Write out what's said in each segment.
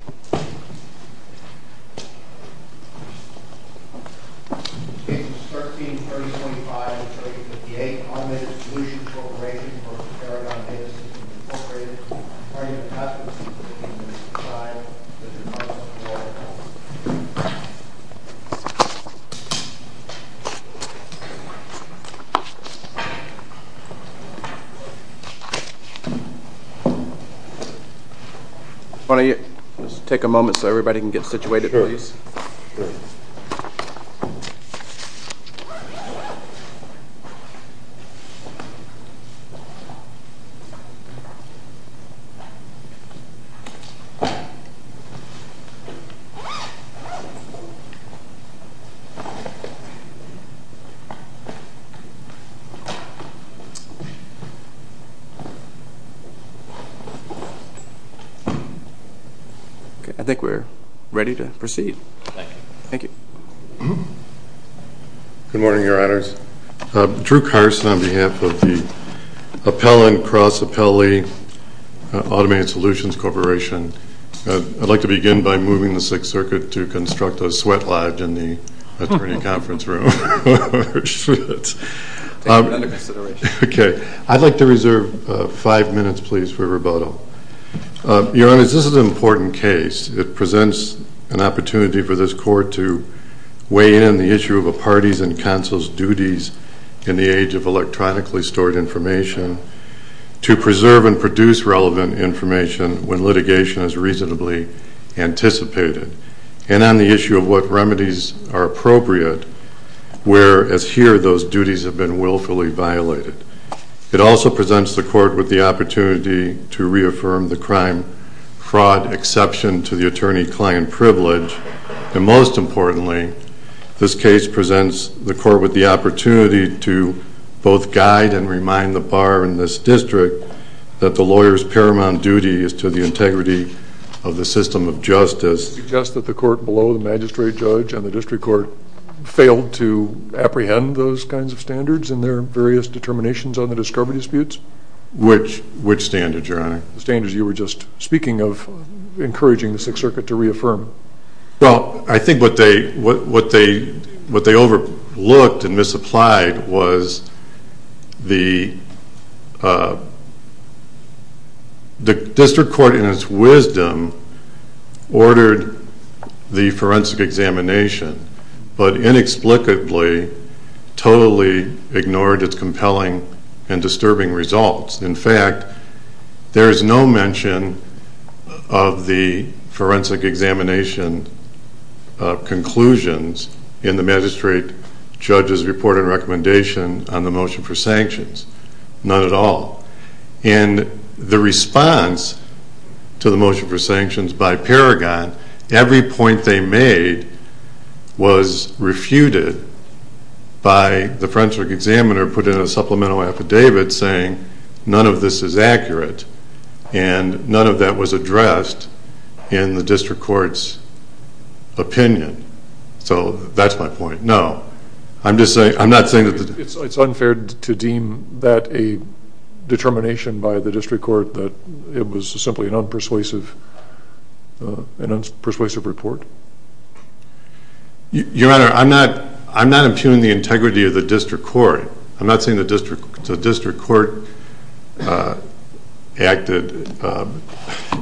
Inc. 1335 58 right right here here here here here here here here here here here here here here here here here here here I think we're ready to proceed Thank you Thank you Good morning, your honors Drew Carson on behalf of the Appellant Cross Appellee Automated Solutions Corporation I'd like to begin by moving the Sixth Circuit to construct a sweat lodge in the attorney conference room Take that into consideration I'd like to reserve five minutes please for rebuttal Your honors, this is an important case It presents an opportunity for this court to weigh in the issue of a party's and council's duties in the age of electronically stored information to preserve and produce relevant information when litigation is reasonably anticipated and on the issue of what remedies are appropriate where, as here, those duties have been willfully violated It also presents the court with the opportunity to reaffirm the crime fraud exception to the attorney-client privilege and most importantly this case presents the court with the opportunity to both guide and remind the bar in this district that the lawyer's paramount duty is to the integrity of the system of justice Suggest that the court below the magistrate judge and the district court failed to apprehend those kinds of standards in their various determinations on the discovery disputes? Which standards, your honor? The standards you were just speaking of encouraging the Sixth Circuit to reaffirm Well, I think what they what they overlooked and misapplied was the uh the district court in its wisdom ordered the forensic examination but inexplicably totally ignored its results. In fact there is no mention of the forensic examination conclusions in the magistrate judge's report and recommendation on the motion for sanctions None at all And the response to the motion for sanctions by Paragon, every point they made was refuted by the forensic examiner putting a supplemental affidavit saying none of this is accurate and none of that was addressed in the district court's opinion So that's my point No, I'm just saying It's unfair to deem that a determination by the district court that it was simply an unpersuasive an unpersuasive report Your honor I'm not impugning the integrity of the district court I'm not saying the district court uh acted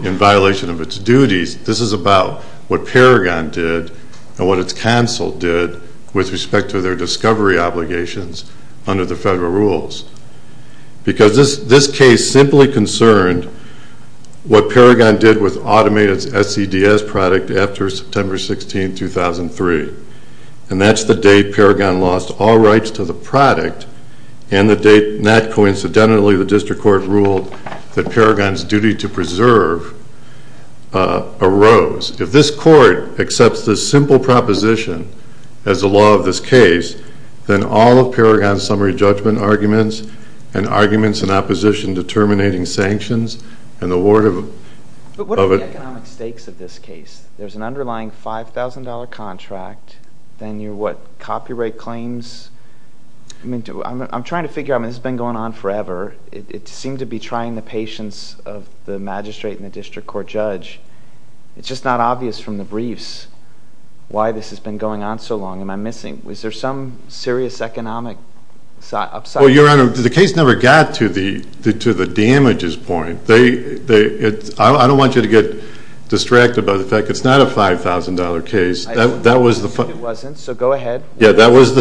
in violation of its duties This is about what Paragon did and what its counsel did with respect to their discovery obligations under the federal rules Because this case simply concerned what Paragon did with automated SCDS product after September 16, 2003 And that's the date Paragon lost all rights to the product and the date, not coincidentally the district court ruled that Paragon's duty to preserve arose If this court accepts this simple proposition as the law of this case, then all of Paragon's summary judgment arguments and arguments in opposition determining sanctions and the word of it What are the economic stakes of this case? There's an underlying $5,000 contract, then you're what? Copyright claims? I'm trying to figure out this has been going on forever It seemed to be trying the patience of the magistrate and the district court judge It's just not obvious from the briefs why this has been going on so long. Am I missing? Was there some serious economic upside? Your honor, the case never got to the to the damages point I don't want you to get distracted by the fact that it's not a $5,000 case That was the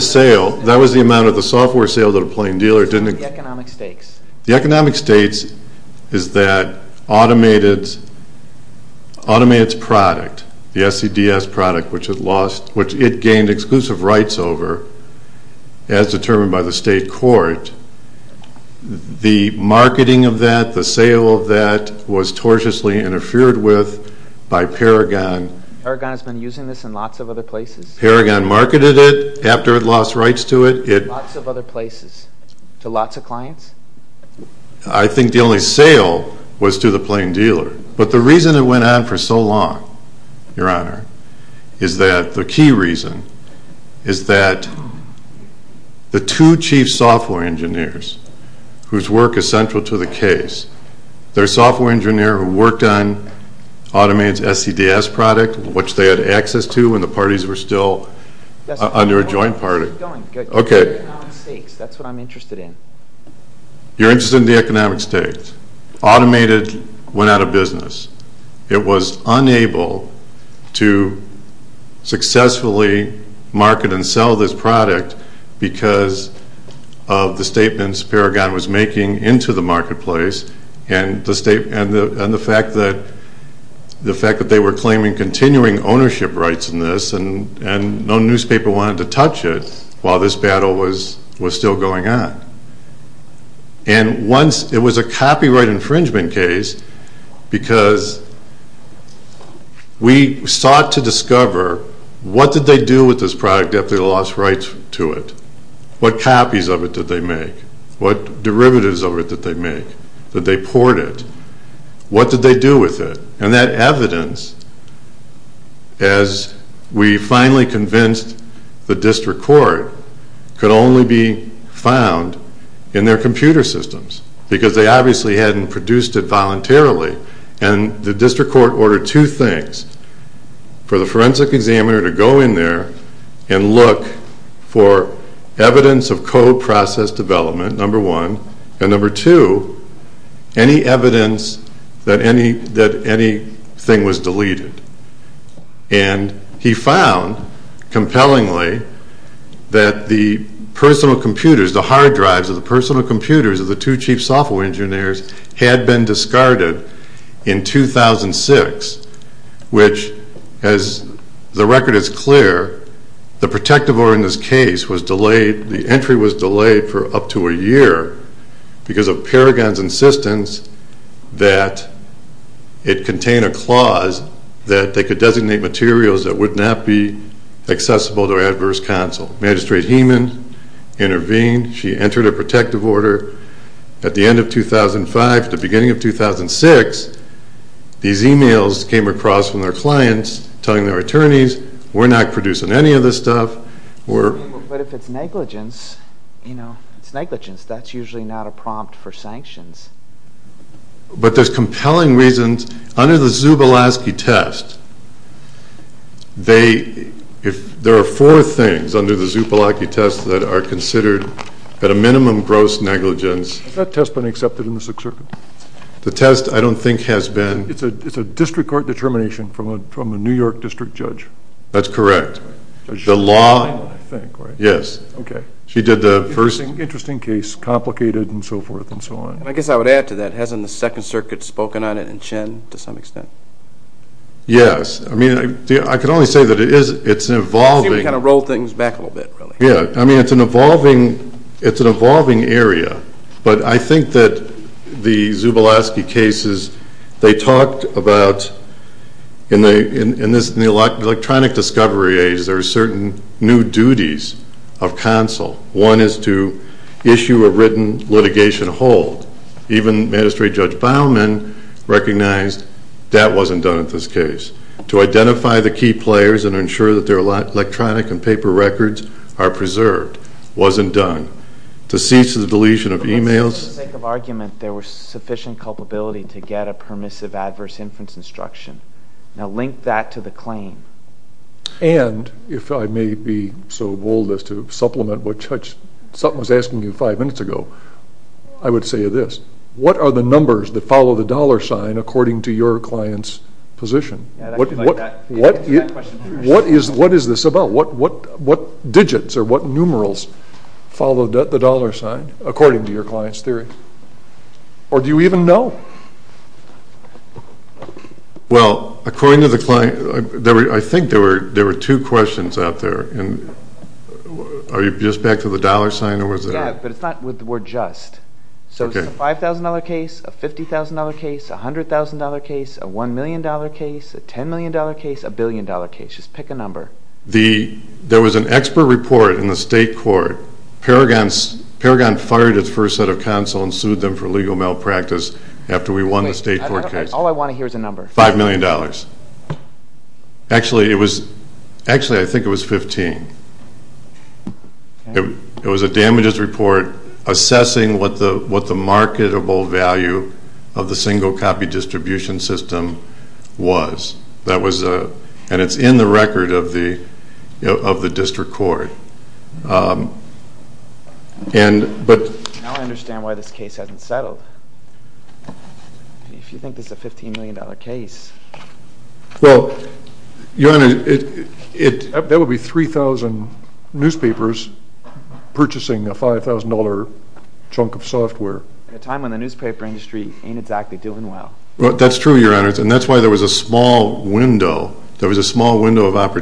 sale That was the amount of the software sale that a plain dealer didn't The economic stakes is that automated automated product the SCDS product which it gained exclusive rights over as determined by the state court the marketing of that, the sale of that was tortiously interfered with by Paragon Paragon has been using this in lots of other places Paragon marketed it after it lost rights to it Lots of other places, to lots of clients? I think the only sale was to the plain dealer but the reason it went on for so long your honor is that the key reason is that the two chief software engineers whose work is central to the case their software engineer who worked on automated SCDS product, which they had access to when the parties were still under a joint party That's what I'm interested in You're interested in the economic stakes Automated went out of business It was unable to successfully market and sell this product because of the statements Paragon was making into the marketplace and the fact that they were claiming continuing ownership rights in this and no newspaper wanted to touch it while this battle was still going on and once it was a copyright infringement case because we sought to discover what did they do with this product after they lost rights to it? What copies of it did they make? What derivatives of it did they make? Did they port it? What did they do with it? And that evidence as we finally convinced the district court could only be found in their computer systems because they obviously hadn't produced it voluntarily and the district court ordered two things for the forensic examiner to go in there and look for evidence of code process development number one and number two any evidence that anything was deleted and he found compellingly that the personal computers the hard drives of the personal computers of the two chief software engineers had been discarded in 2006 which as the record is clear the protective order in this case was delayed, the entry was delayed for up to a year because of Paragon's insistence that it contained a clause that they could designate materials that would not be accessible to adverse counsel. Magistrate Heeman intervened, she entered a protective order. At the end of 2005 at the beginning of 2006 these emails came across from their clients telling their attorneys, we're not producing any of this stuff But if it's negligence it's negligence, that's usually not a prompt for sanctions But there's compelling reasons under the Zubalaski test they there are four things under the Zubalaski test that are considered at a minimum gross negligence. Has that test been accepted in the Sixth Circuit? The test I don't think has been. It's a district court determination from a New York district judge. That's correct. The law, I think, right? Yes. Okay. She did the first Interesting case, complicated and so forth and so on. I guess I would add to that, hasn't the Second Circuit spoken on it in Chen to some extent? Yes I mean, I could only say that it is it's evolving. See we kind of rolled things back a little bit really. Yeah, I mean it's an evolving it's an evolving area but I think that the Zubalaski cases they talked about in the electronic discovery age there are certain new duties of counsel. One is to issue a written litigation hold even magistrate judge Baumann recognized that wasn't done in this case. To identify the key players and ensure that their electronic and paper records are preserved. Wasn't done. To cease the deletion of emails. For the sake of argument there was sufficient culpability to get a permissive adverse inference instruction. Now link that to the claim. And, if I may be so bold as to supplement what Judge Sutton was asking you five minutes ago, I would say this. What are the numbers that follow the dollar sign according to your client's position? What is this about? What digits or what numerals follow the dollar sign according to your client's theory? Or do you even know? Well according to the client I think there were two questions out there. Are you just back to the dollar sign? Yeah, but it's not with the word just. So it's a $5,000 case, a $50,000 case, a $100,000 case, a $1,000,000 case, a $10,000,000 case, a $1,000,000,000 case. Just pick a number. There was an expert report in the state court. Paragon fired its first set of counsel and sued them for legal malpractice after we won the state court case. All I want to hear is a number. $5,000,000. it was, actually I think it was $15,000. It was a damages report assessing what the marketable value of the single copy distribution system was. And it's in the record of the district court. Now I understand why this case hasn't settled. If you think this is a $15,000,000 case. Well, Your Honor, there would be 3,000 newspapers purchasing a $5,000 chunk of software. At a time when the newspaper industry ain't exactly doing well. That's true, Your Honor, and that's why there was a small window, there was a small window of yes,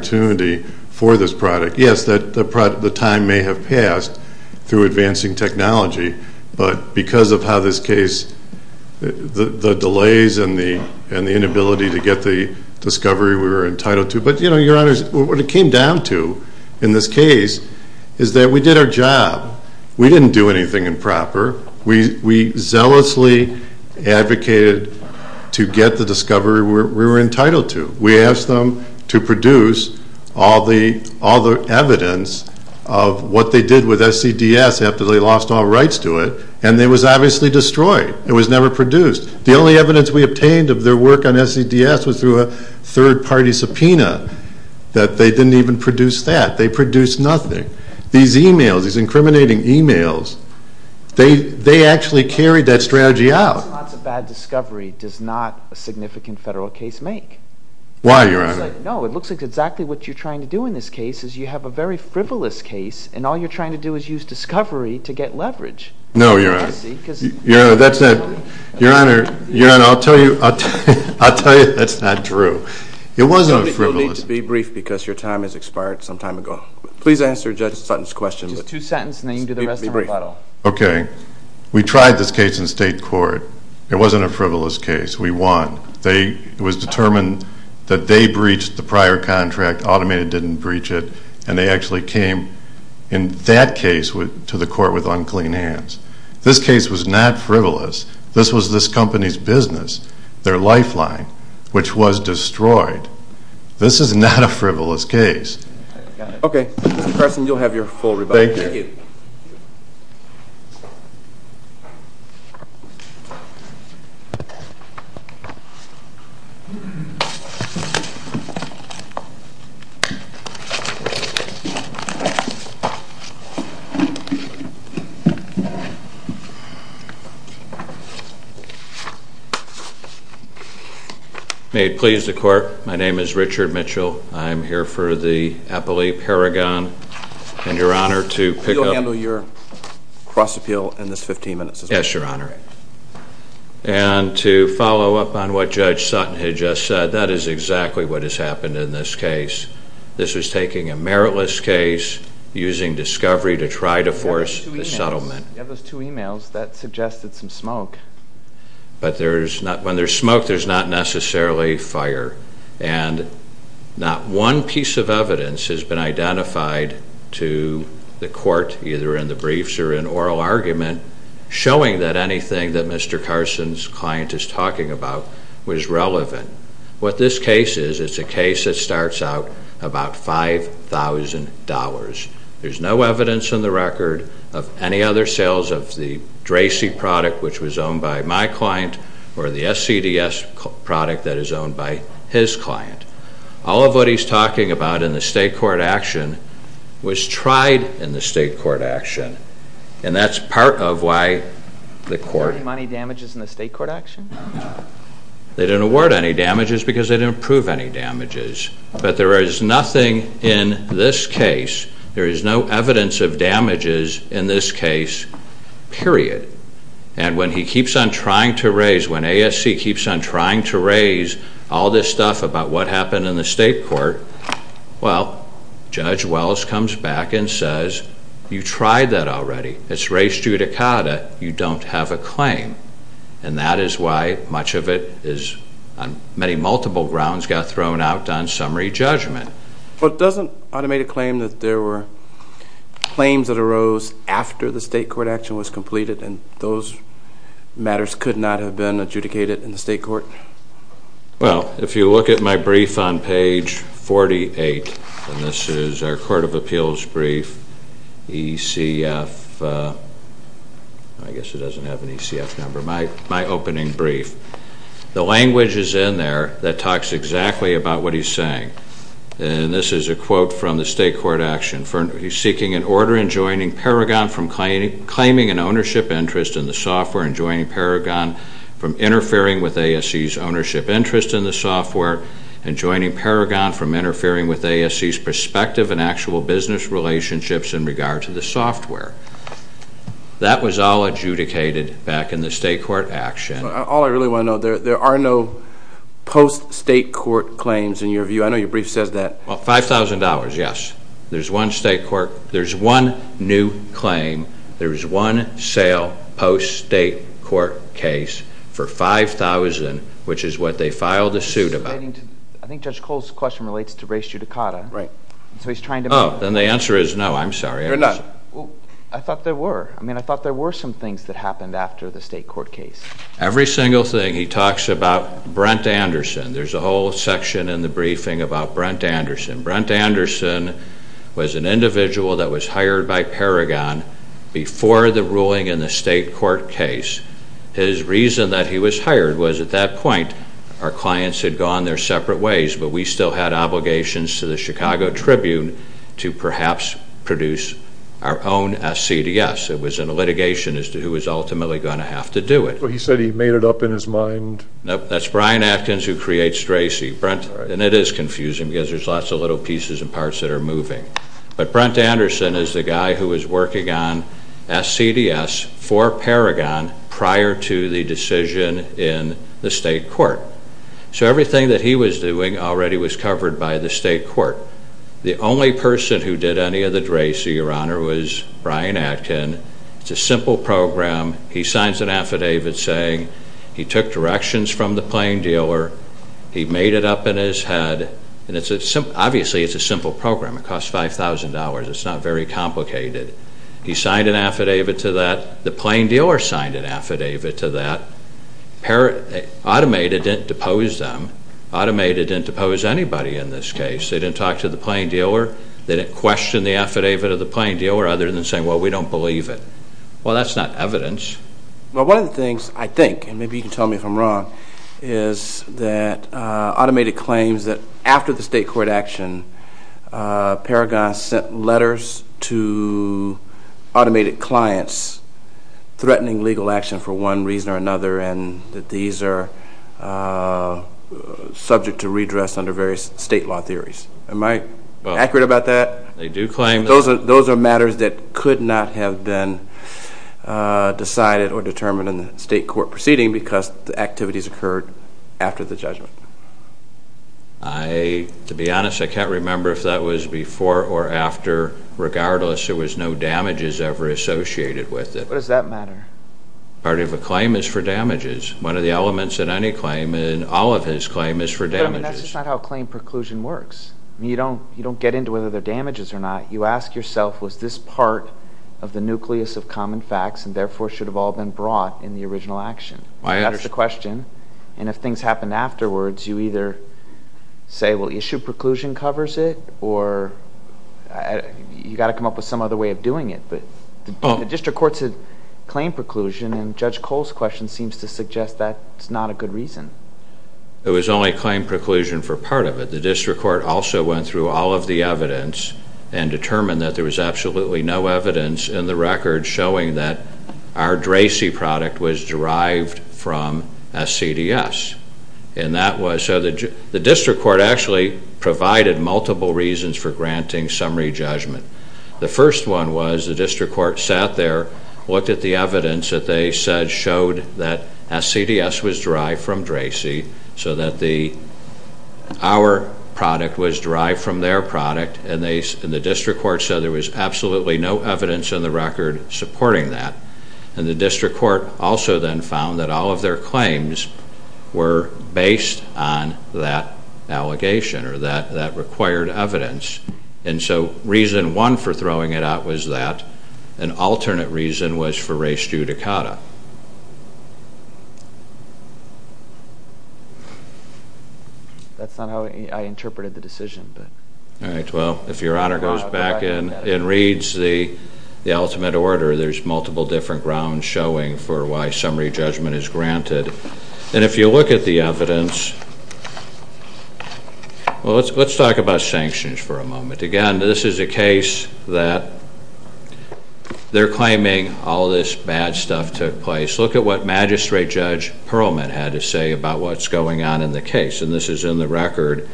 the time may have passed through advancing technology, but because of how this case, the delays and the inability to get the discovery we were entitled to, but you know, Your Honor, what it came down to in this case is that we did our job. We didn't do anything improper. We zealously advocated to get the discovery we were entitled to. We asked them to produce all the evidence of what they did with SCDS after they lost all rights to it and it was obviously destroyed. It was never produced. The only evidence we obtained of their work on SCDS was through a third-party subpoena that they didn't even produce that. They produced nothing. These emails, these incriminating emails, they actually carried that strategy out. A bad discovery does not a significant federal case make. Why, Your Honor? No, it looks like exactly what you're trying to do in this case is you have a very frivolous case and all you're trying to do is use discovery to get leverage. No, Your Honor. Your Honor, I'll tell you that's not true. It wasn't frivolous. You'll need to be brief because your time has expired some time ago. Please answer Judge Sutton's question. Just two sentences and then you can do the rest of the rebuttal. Okay. We tried this case in state court. It wasn't a frivolous case. We won. It was determined that they breached the prior contract, Automated didn't breach it, and they actually came in that case to the court with unclean hands. This case was not frivolous. This was this company's business, their lifeline, which was destroyed. This is not a frivolous case. Okay. Mr. Carson, you'll have your full rebuttal. Thank you. May it please the Court, my name is Richard Mitchell. I'm here for the appellee Paragon. And Your Honor, to pick up... We'll handle your cross-appeal in this 15 minutes. Yes, Your Honor. appellee Paragon. I'm here for the appellee Paragon. What Judge Sutton had just said, that is exactly what has happened in this case. This is taking a meritless case, using discovery to try to force the settlement. We have those two emails. That suggested some smoke. When there's smoke, there's not necessarily fire. Not one piece of evidence has been identified to the court, either in the briefs or in oral argument, showing that anything that Mr. Carson's talking about was relevant. What this case is, it's a case that starts out about $5,000. There's no evidence in the record of any other sales of the Dracy product, which was owned by my client, or the SCDS product that is owned by his client. All of what he's talking about in the state court action was tried in the state court action. And that's part of why the court... They didn't award any damages because they didn't prove any damages. But there is nothing in this case, there is no evidence of damages in this case, period. And when he keeps on trying to raise, when ASC keeps on trying to raise all this stuff about what happened in the state court, well, Judge Wells comes back and says, you tried that already. It's res judicata. You don't have a claim. And that is why much of it is, on many multiple grounds, got thrown out on summary judgment. But doesn't automated claim that there were claims that arose after the state court action was completed, and those matters could not have been adjudicated in the state court? Well, if you look at my brief on page 48, and this is our Court of Appeals brief, ECF, I guess it doesn't have an ECF number, my opening brief, the language is in there that talks exactly about what he's saying. And this is a quote from the state court action. He's seeking an order in joining Paragon from claiming an ownership interest in the software and joining Paragon from interfering with ASC's ownership interest in the software and joining Paragon from interfering with ASC's perspective in actual business relationships in regard to the software. That was all adjudicated back in the state court action. All I really want to know, there are no post-state court claims in your view. I know your brief says that. $5,000, yes. There's one state court, there's one new claim, there's one sale post-state court case for $5,000, which is what they filed a suit about. I think Judge Cole's question relates to race judicata. Oh, then the answer is no, I'm sorry. I thought there were some things that happened after the state court case. Every single thing, he talks about Brent Anderson. There's a whole section in the briefing about Brent Anderson. Brent Anderson was an individual that was hired by Paragon before the ruling in the state court case. His reason that he was hired was at that point, our clients had gone their separate ways, but we still had obligations to the Chicago Tribune to perhaps produce our own SCDS. It was in litigation as to who was ultimately going to have to do it. So he said he made it up in his mind? No, that's Brian Atkins who creates Tracy. And it is confusing because there's lots of little pieces and parts that are moving. But Brent Anderson is the guy who was working on SCDS for Paragon prior to the decision in the state court. So everything that he was doing already was covered by the state court. The only person who did any of the Tracy, Your Honor, was Brian Atkins. It's a simple program. He signs an affidavit saying he took directions from the plane dealer. He made it up in his head. Obviously, it's a simple program. It costs $5,000. It's not very complicated. He signed an affidavit to that. The plane dealer signed an affidavit to that. Automated didn't depose them. Automated didn't depose anybody in this case. They didn't talk to the plane dealer. They didn't question the affidavit of the plane dealer other than saying, well, we don't believe it. Well, that's not evidence. Well, one of the things I think, and maybe you can tell me if I'm wrong, is that Automated claims that after the state court action, Paragon sent letters to Automated clients threatening legal action for one reason or another and that these are subject to redress under various state law theories. Am I accurate about that? Those are matters that could not have been decided or determined in the state court proceeding because the activities occurred after the judgment. To be honest, I can't remember if that was before or after. Regardless, there was no damages ever associated with it. Part of a claim is for damages. One of the elements in any claim, in all of his claims, is for damages. But that's not how claim preclusion works. You don't get into whether they're damages or not. You ask yourself, was this part of the nucleus of common facts and therefore should have all been brought in the original action? That's the question. And if things happen afterwards, you either say, well, issue preclusion covers it, or you've got to come up with some other way of doing it. The district court's claim preclusion and Judge Cole's question seems to suggest that's not a good reason. It was only claim preclusion for part of it. The district court also went through all of the evidence and determined that there was absolutely no evidence in the record showing that our DRACY product was derived from SCDS. The district court actually provided multiple reasons for granting summary judgment. The first one was the district court sat there, looked at the evidence that they said showed that SCDS was derived from DRACY, so that our product was derived from their product, and the district court said there was absolutely no evidence in the record supporting that. And the district court also then found that all of their claims were based on that allegation, or that required evidence, and so reason one for throwing it out was that. An alternate reason was for re studicata. That's not how I interpreted the decision, but... Alright, well, if Your Honor goes back and reads the ultimate order, there's multiple different grounds showing for why summary judgment is granted. And if you look at the evidence... Well, let's talk about sanctions for a moment. Again, this is a case that they're claiming all this bad stuff took place. Look at what Magistrate Judge Perlman had to say about what's going on in the case. And this is in the record,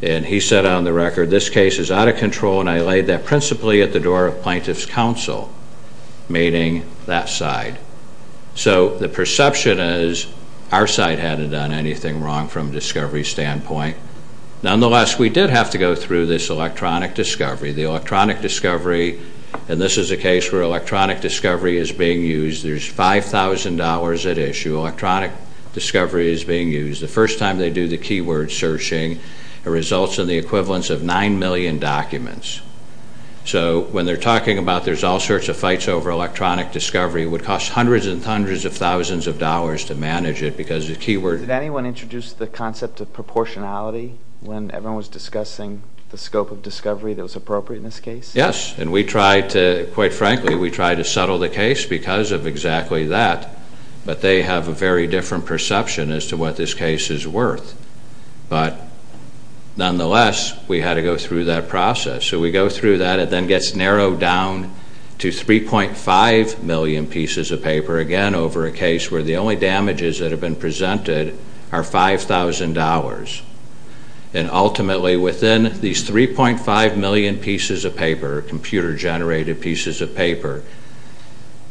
and he said on the record, this case is out of control, and I laid that principally at the door of Plaintiff's Council, meaning that side. So, the perception is our side hadn't done anything wrong from a discovery standpoint. Nonetheless, we did have to go through this electronic discovery. The electronic discovery, and this is a case where electronic discovery is being used. There's $5,000 at issue. Electronic discovery is being used. The first time they do the keyword searching, it results in the equivalence of 9 million documents. So, when they're talking about there's all sorts of fights over electronic discovery, it would cost hundreds and hundreds of thousands of dollars to manage it because the keyword... Did anyone introduce the concept of proportionality when everyone was discussing the scope of discovery that was appropriate in this case? Yes, and we tried to, quite frankly, we tried to settle the case because of exactly that, but they have a very different perception as to what this case is worth. But, nonetheless, we had to go through that narrowed down to 3.5 million pieces of paper, again, over a case where the only damages that have been presented are $5,000. And, ultimately, within these 3.5 million pieces of paper, computer-generated pieces of paper,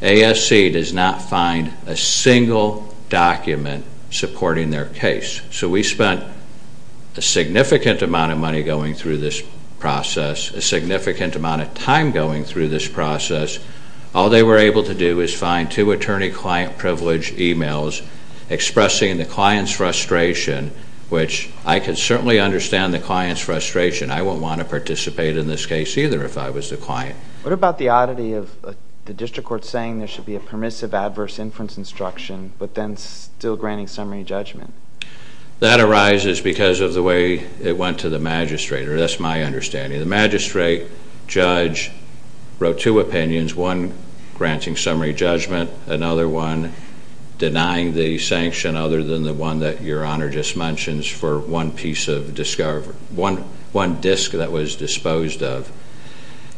ASC does not find a single document supporting their case. So, we spent a significant amount of money going through this process, a significant amount of time going through this process. All they were able to do is find two attorney-client-privileged emails expressing the client's frustration, which I can certainly understand the client's frustration. I wouldn't want to participate in this case either if I was the client. What about the oddity of the district court saying there should be a permissive adverse inference instruction, but then still granting summary judgment? That arises because of the way it went to the magistrate, or that's my understanding. The magistrate, judge, wrote two opinions, one granting summary judgment, another one denying the sanction other than the one that your honor just mentions for one piece of disc that was disposed of.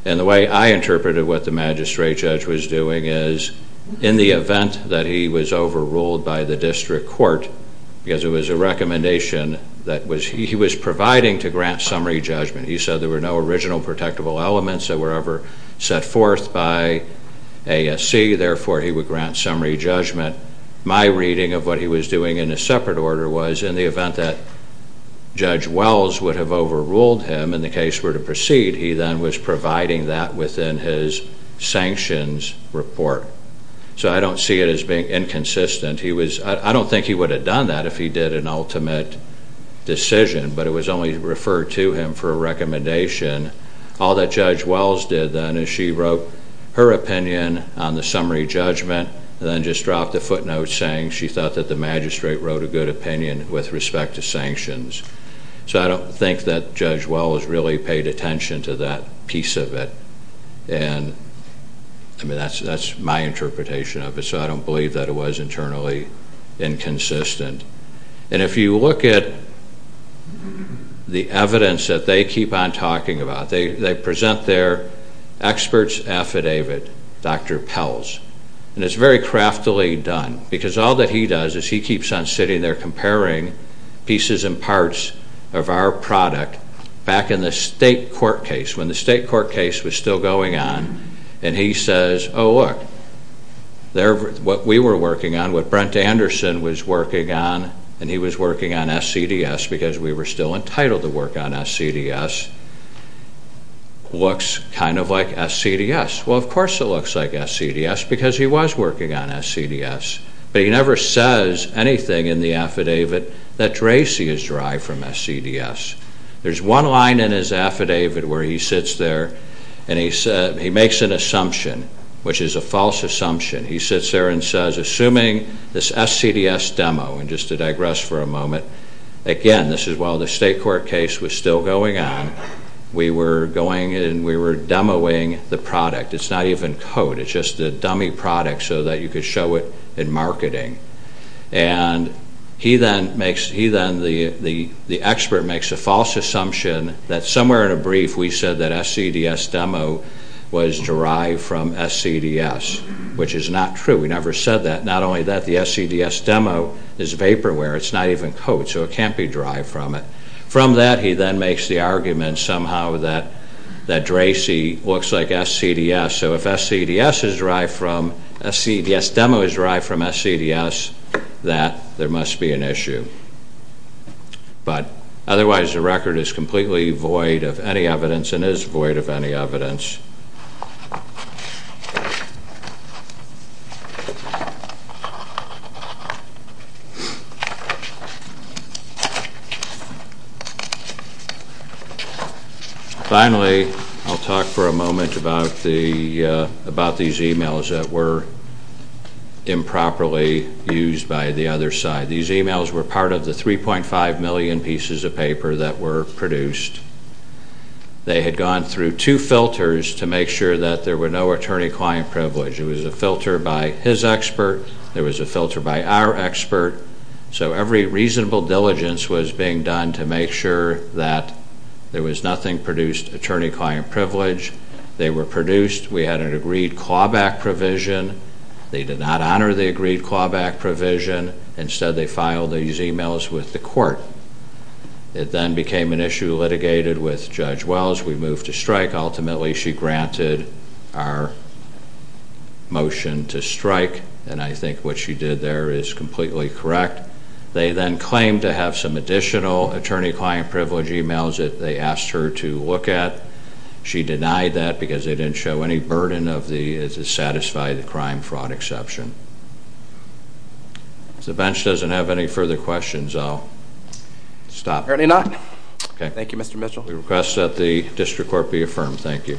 And the way I interpreted what the magistrate judge was doing is, in the event that he was overruled by the district court, because it was a recommendation that he was providing to grant summary judgment, he said there were no original protectable elements that were ever set forth by ASC, therefore he would grant summary judgment. My reading of what he was doing in a separate order was, in the event that Judge Wells would have overruled him and the case were to proceed, he then was providing that within his sanctions report. So I don't see it as being inconsistent. He was, I don't think he would have done that if he did an ultimate decision, but it was only referred to him for a recommendation. All that Judge Wells did then is she wrote her opinion on the summary judgment and then just dropped a footnote saying she thought that the magistrate wrote a good opinion with respect to sanctions. So I don't think that Judge Wells really paid attention to that piece of it. And, I mean, that's my interpretation of it, so I don't believe that it was internally inconsistent. And if you look at the evidence that they keep on talking about, they present their expert's affidavit, Dr. Pelz, and it's very craftily done because all that he does is he keeps on sitting there comparing pieces and parts of our product back in the state court case, when the state court case was still going on, and he says, oh look, what we were working on, what Brent Anderson was working on, and he was working on SCDS because we were still entitled to work on SCDS, looks kind of like SCDS. Well, of course it looks like SCDS because he was working on SCDS, but he never says anything in the affidavit that Tracy is dry from SCDS. There's one line in his affidavit where he sits there and he makes an assumption, which is a false assumption. He sits there and he makes an assumption that the SCDS demo, and just to digress for a moment, again, this is while the state court case was still going on, we were going and we were demoing the product. It's not even code, it's just a dummy product so that you could show it in marketing. And he then makes, he then, the expert makes a false assumption that somewhere in a brief we said that SCDS demo was dry from SCDS, which is not true. We never said that. Not only that, the SCDS demo is vaporware, it's not even code, so it can't be dry from it. From that, he then makes the argument somehow that Tracy looks like SCDS, so if SCDS is dry from, SCDS demo is dry from SCDS, that there must be an issue. But, otherwise the record is completely void of any evidence and is void of any evidence. Finally, I'll talk for a moment about the, about these emails that were improperly used by the other side. These emails were part of the 3.5 million pieces of paper that were produced. They had gone through two filters to make sure that there were no attorney-client privilege. It was a filter by his expert, there was a filter by our expert, so every reasonable diligence was being done to make sure that there was nothing produced attorney-client privilege. They were produced. We had an agreed clawback provision. They did not honor the agreed clawback provision. Instead, they filed these emails with the court. It then became an issue litigated with Judge Wells. We moved to strike. Ultimately, she granted our motion to strike, and I think what she did there is completely correct. They then claimed to have some additional attorney-client privilege emails that they asked her to look at. She denied that because they didn't show any burden of the, to satisfy the crime-fraud exception. If the bench doesn't have any further questions, I'll stop. Apparently not. Thank you, Mr. Mitchell. We request that the district court be affirmed. Thank you.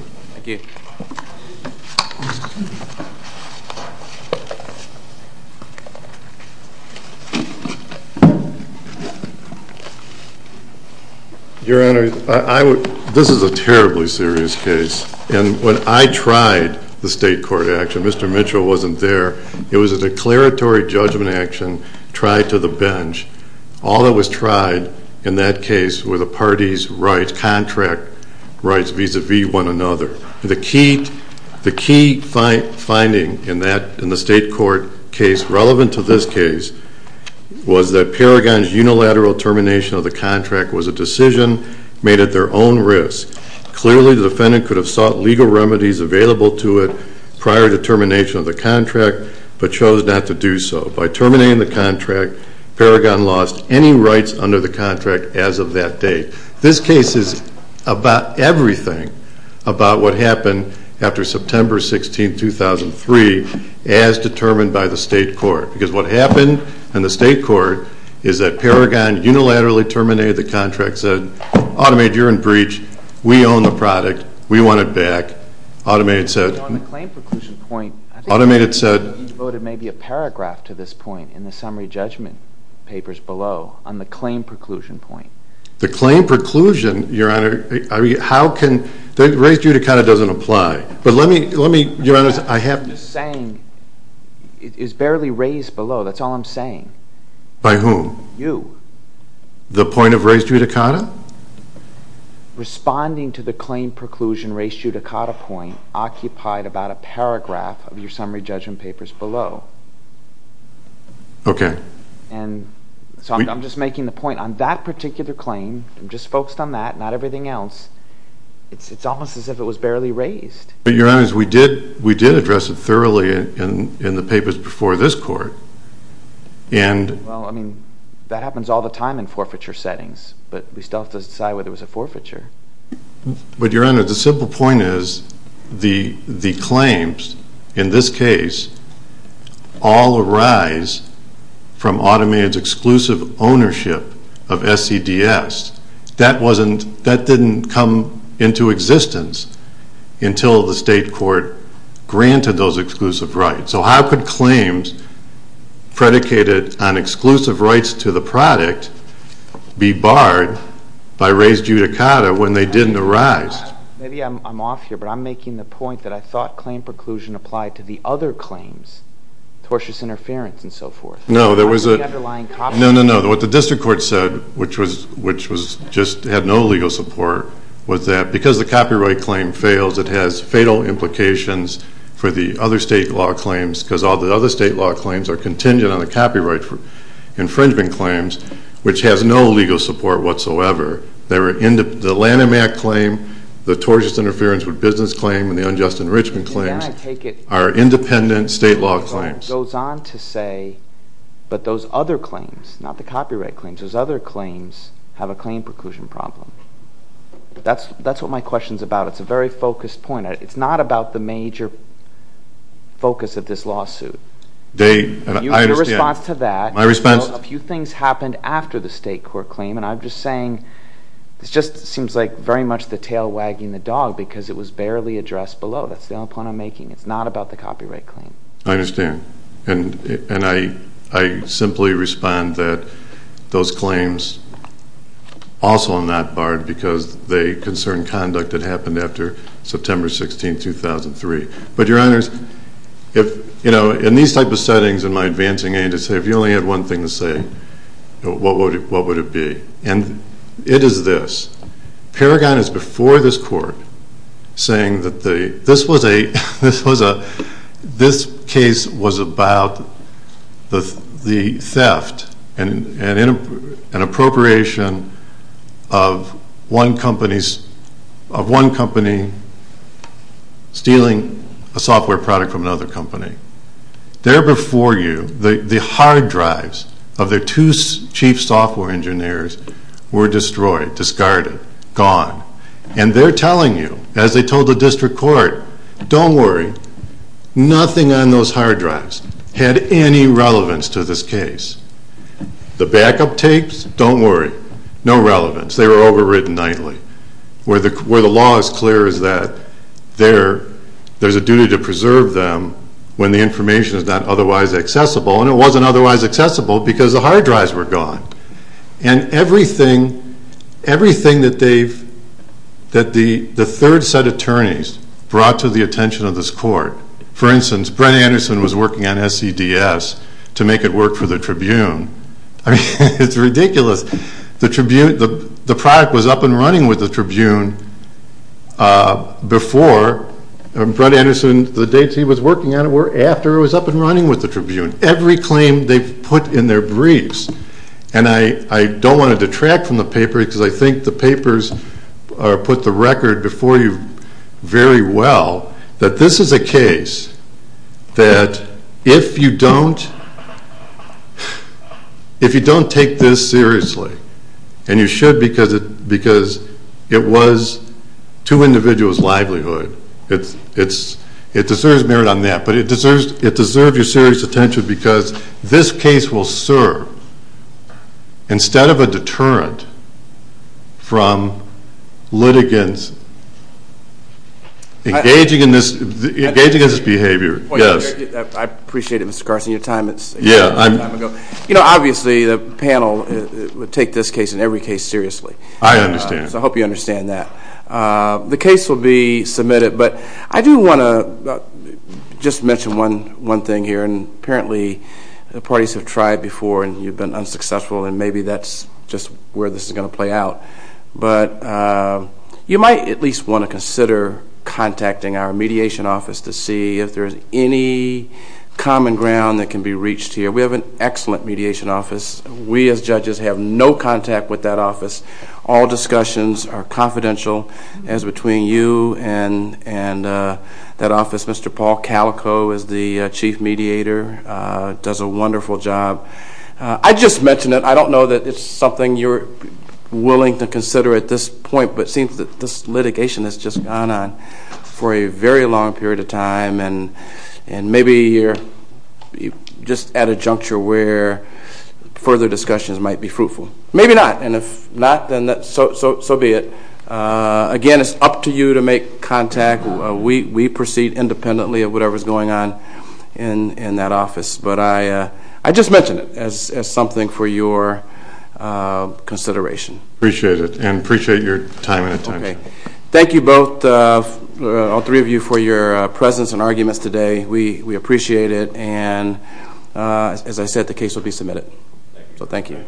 Your Honor, I would, this is a terribly serious case, and when I tried the state court action, Mr. Mitchell wasn't there. It was a declaratory judgment action tried to the bench. All that was tried in that case were the parties' rights, contract rights, vis-à-vis one another. The key finding in the state court case relevant to this case was that Paragon's unilateral termination of the contract was a decision made at their own risk. Clearly, the defendant could have sought legal remedies available to it prior to termination of the contract, but chose not to do so. By terminating the contract, Paragon lost any rights under the contract as of that date. This case is about everything about what happened after September 16, 2003 as determined by the state court, because what happened in the state court is that Paragon unilaterally terminated the contract, said Automate, you're in breach. We own the product. We want it back. Automate said... You quoted maybe a paragraph to this point in the summary judgment papers below on the claim preclusion point. The claim preclusion, Your Honor, how can... The res judicata doesn't apply. But let me... Your Honor, I have... What you're saying is barely raised below. That's all I'm saying. By whom? You. The point of res judicata? Responding to the claim preclusion res judicata point occupied about a page below. Okay. I'm just making the point on that particular claim. I'm just focused on that, not everything else. It's almost as if it was barely raised. Your Honor, we did address it thoroughly in the papers before this court. That happens all the time in forfeiture settings, but we still have to decide whether it was a forfeiture. Your Honor, the simple point is the claims in this case all arise from automated exclusive ownership of SCDS. That wasn't... That didn't come into existence until the state court granted those exclusive rights. So how could claims predicated on exclusive rights to the product be barred by res judicata when they didn't arise? Maybe I'm off here, but I'm wondering if the same preclusion applied to the other claims, tortuous interference and so forth. No, no, no. What the district court said, which just had no legal support, was that because the copyright claim fails, it has fatal implications for the other state law claims because all the other state law claims are contingent on the copyright infringement claims, which has no legal support whatsoever. The Lanham Act claim, the tortuous infringement claims are independent state law claims. But those other claims, not the copyright claims, those other claims have a claim preclusion problem. That's what my question's about. It's a very focused point. It's not about the major focus of this lawsuit. I understand. A few things happened after the state court claim, and I'm just saying this just seems like very much the tail wagging the dog because it was barely addressed below. That's the only point I'm making. It's not about the copyright claim. I understand. And I simply respond that those claims also are not barred because they concern conduct that happened after September 16, 2003. But, Your Honors, if, you know, in these type of settings in my advancing age, if you only had one thing to say, what would it be? And it is this. Paragon is before this court saying that this was a this case was about the theft and appropriation of one company stealing a software product from another company. There before you, the hard drives of their two chief software engineers were destroyed, discarded, gone. And they're telling you, as they told the district court, don't worry. Nothing on those hard drives had any relevance to this case. The backup tapes, don't worry. No relevance. They were overridden nightly. Where the law is clear is that there's a duty to preserve them when the information is not otherwise accessible, and it wasn't otherwise accessible because the hard drives were gone. And everything everything that they've that the third set attorneys brought to the attention of this court. For instance, Brent Anderson was working on SCDS to make it work for the Tribune. I mean, it's ridiculous. The Tribune, the product was up and running with the Tribune Brent Anderson, the dates he was working on it were after it was up and running with the Tribune. Every claim they've put in their briefs, and I don't want to detract from the paper because I think the papers put the record before you very well, that this is a case that if you don't if you don't take this seriously and you should because it was two individuals' livelihood it deserves merit on that, but it deserves your serious attention because this case will serve instead of a deterrent from litigants engaging in this engaging in this behavior. I appreciate it, Mr. Carson, your time you know, obviously the panel would take this case and every case seriously. I understand. I hope you understand that. The case will be submitted, but I do want to just mention one thing here and apparently parties have tried before and you've been unsuccessful and maybe that's just where this is going to play out. You might at least want to consider contacting our mediation office to see if there's any common ground that can be reached here. We have an excellent mediation office. We as judges have no contact with that office. All discussions are confidential as between you and that office. Mr. Paul Calico is the chief mediator does a wonderful job. I just mentioned it. I don't know that it's something you're willing to consider at this point, but it seems that this litigation has just gone on for a very long period of time and maybe you're just at a juncture where further discussions might be fruitful. Maybe not and if not, then so be it. Again, it's up to you to make contact. We proceed independently of whatever is going on in that office, but I just mentioned it as something for your consideration. Appreciate it and appreciate your time and attention. Thank you both, all three of you for your presence and arguments today. We appreciate it and as I said, the case will be submitted. So thank you.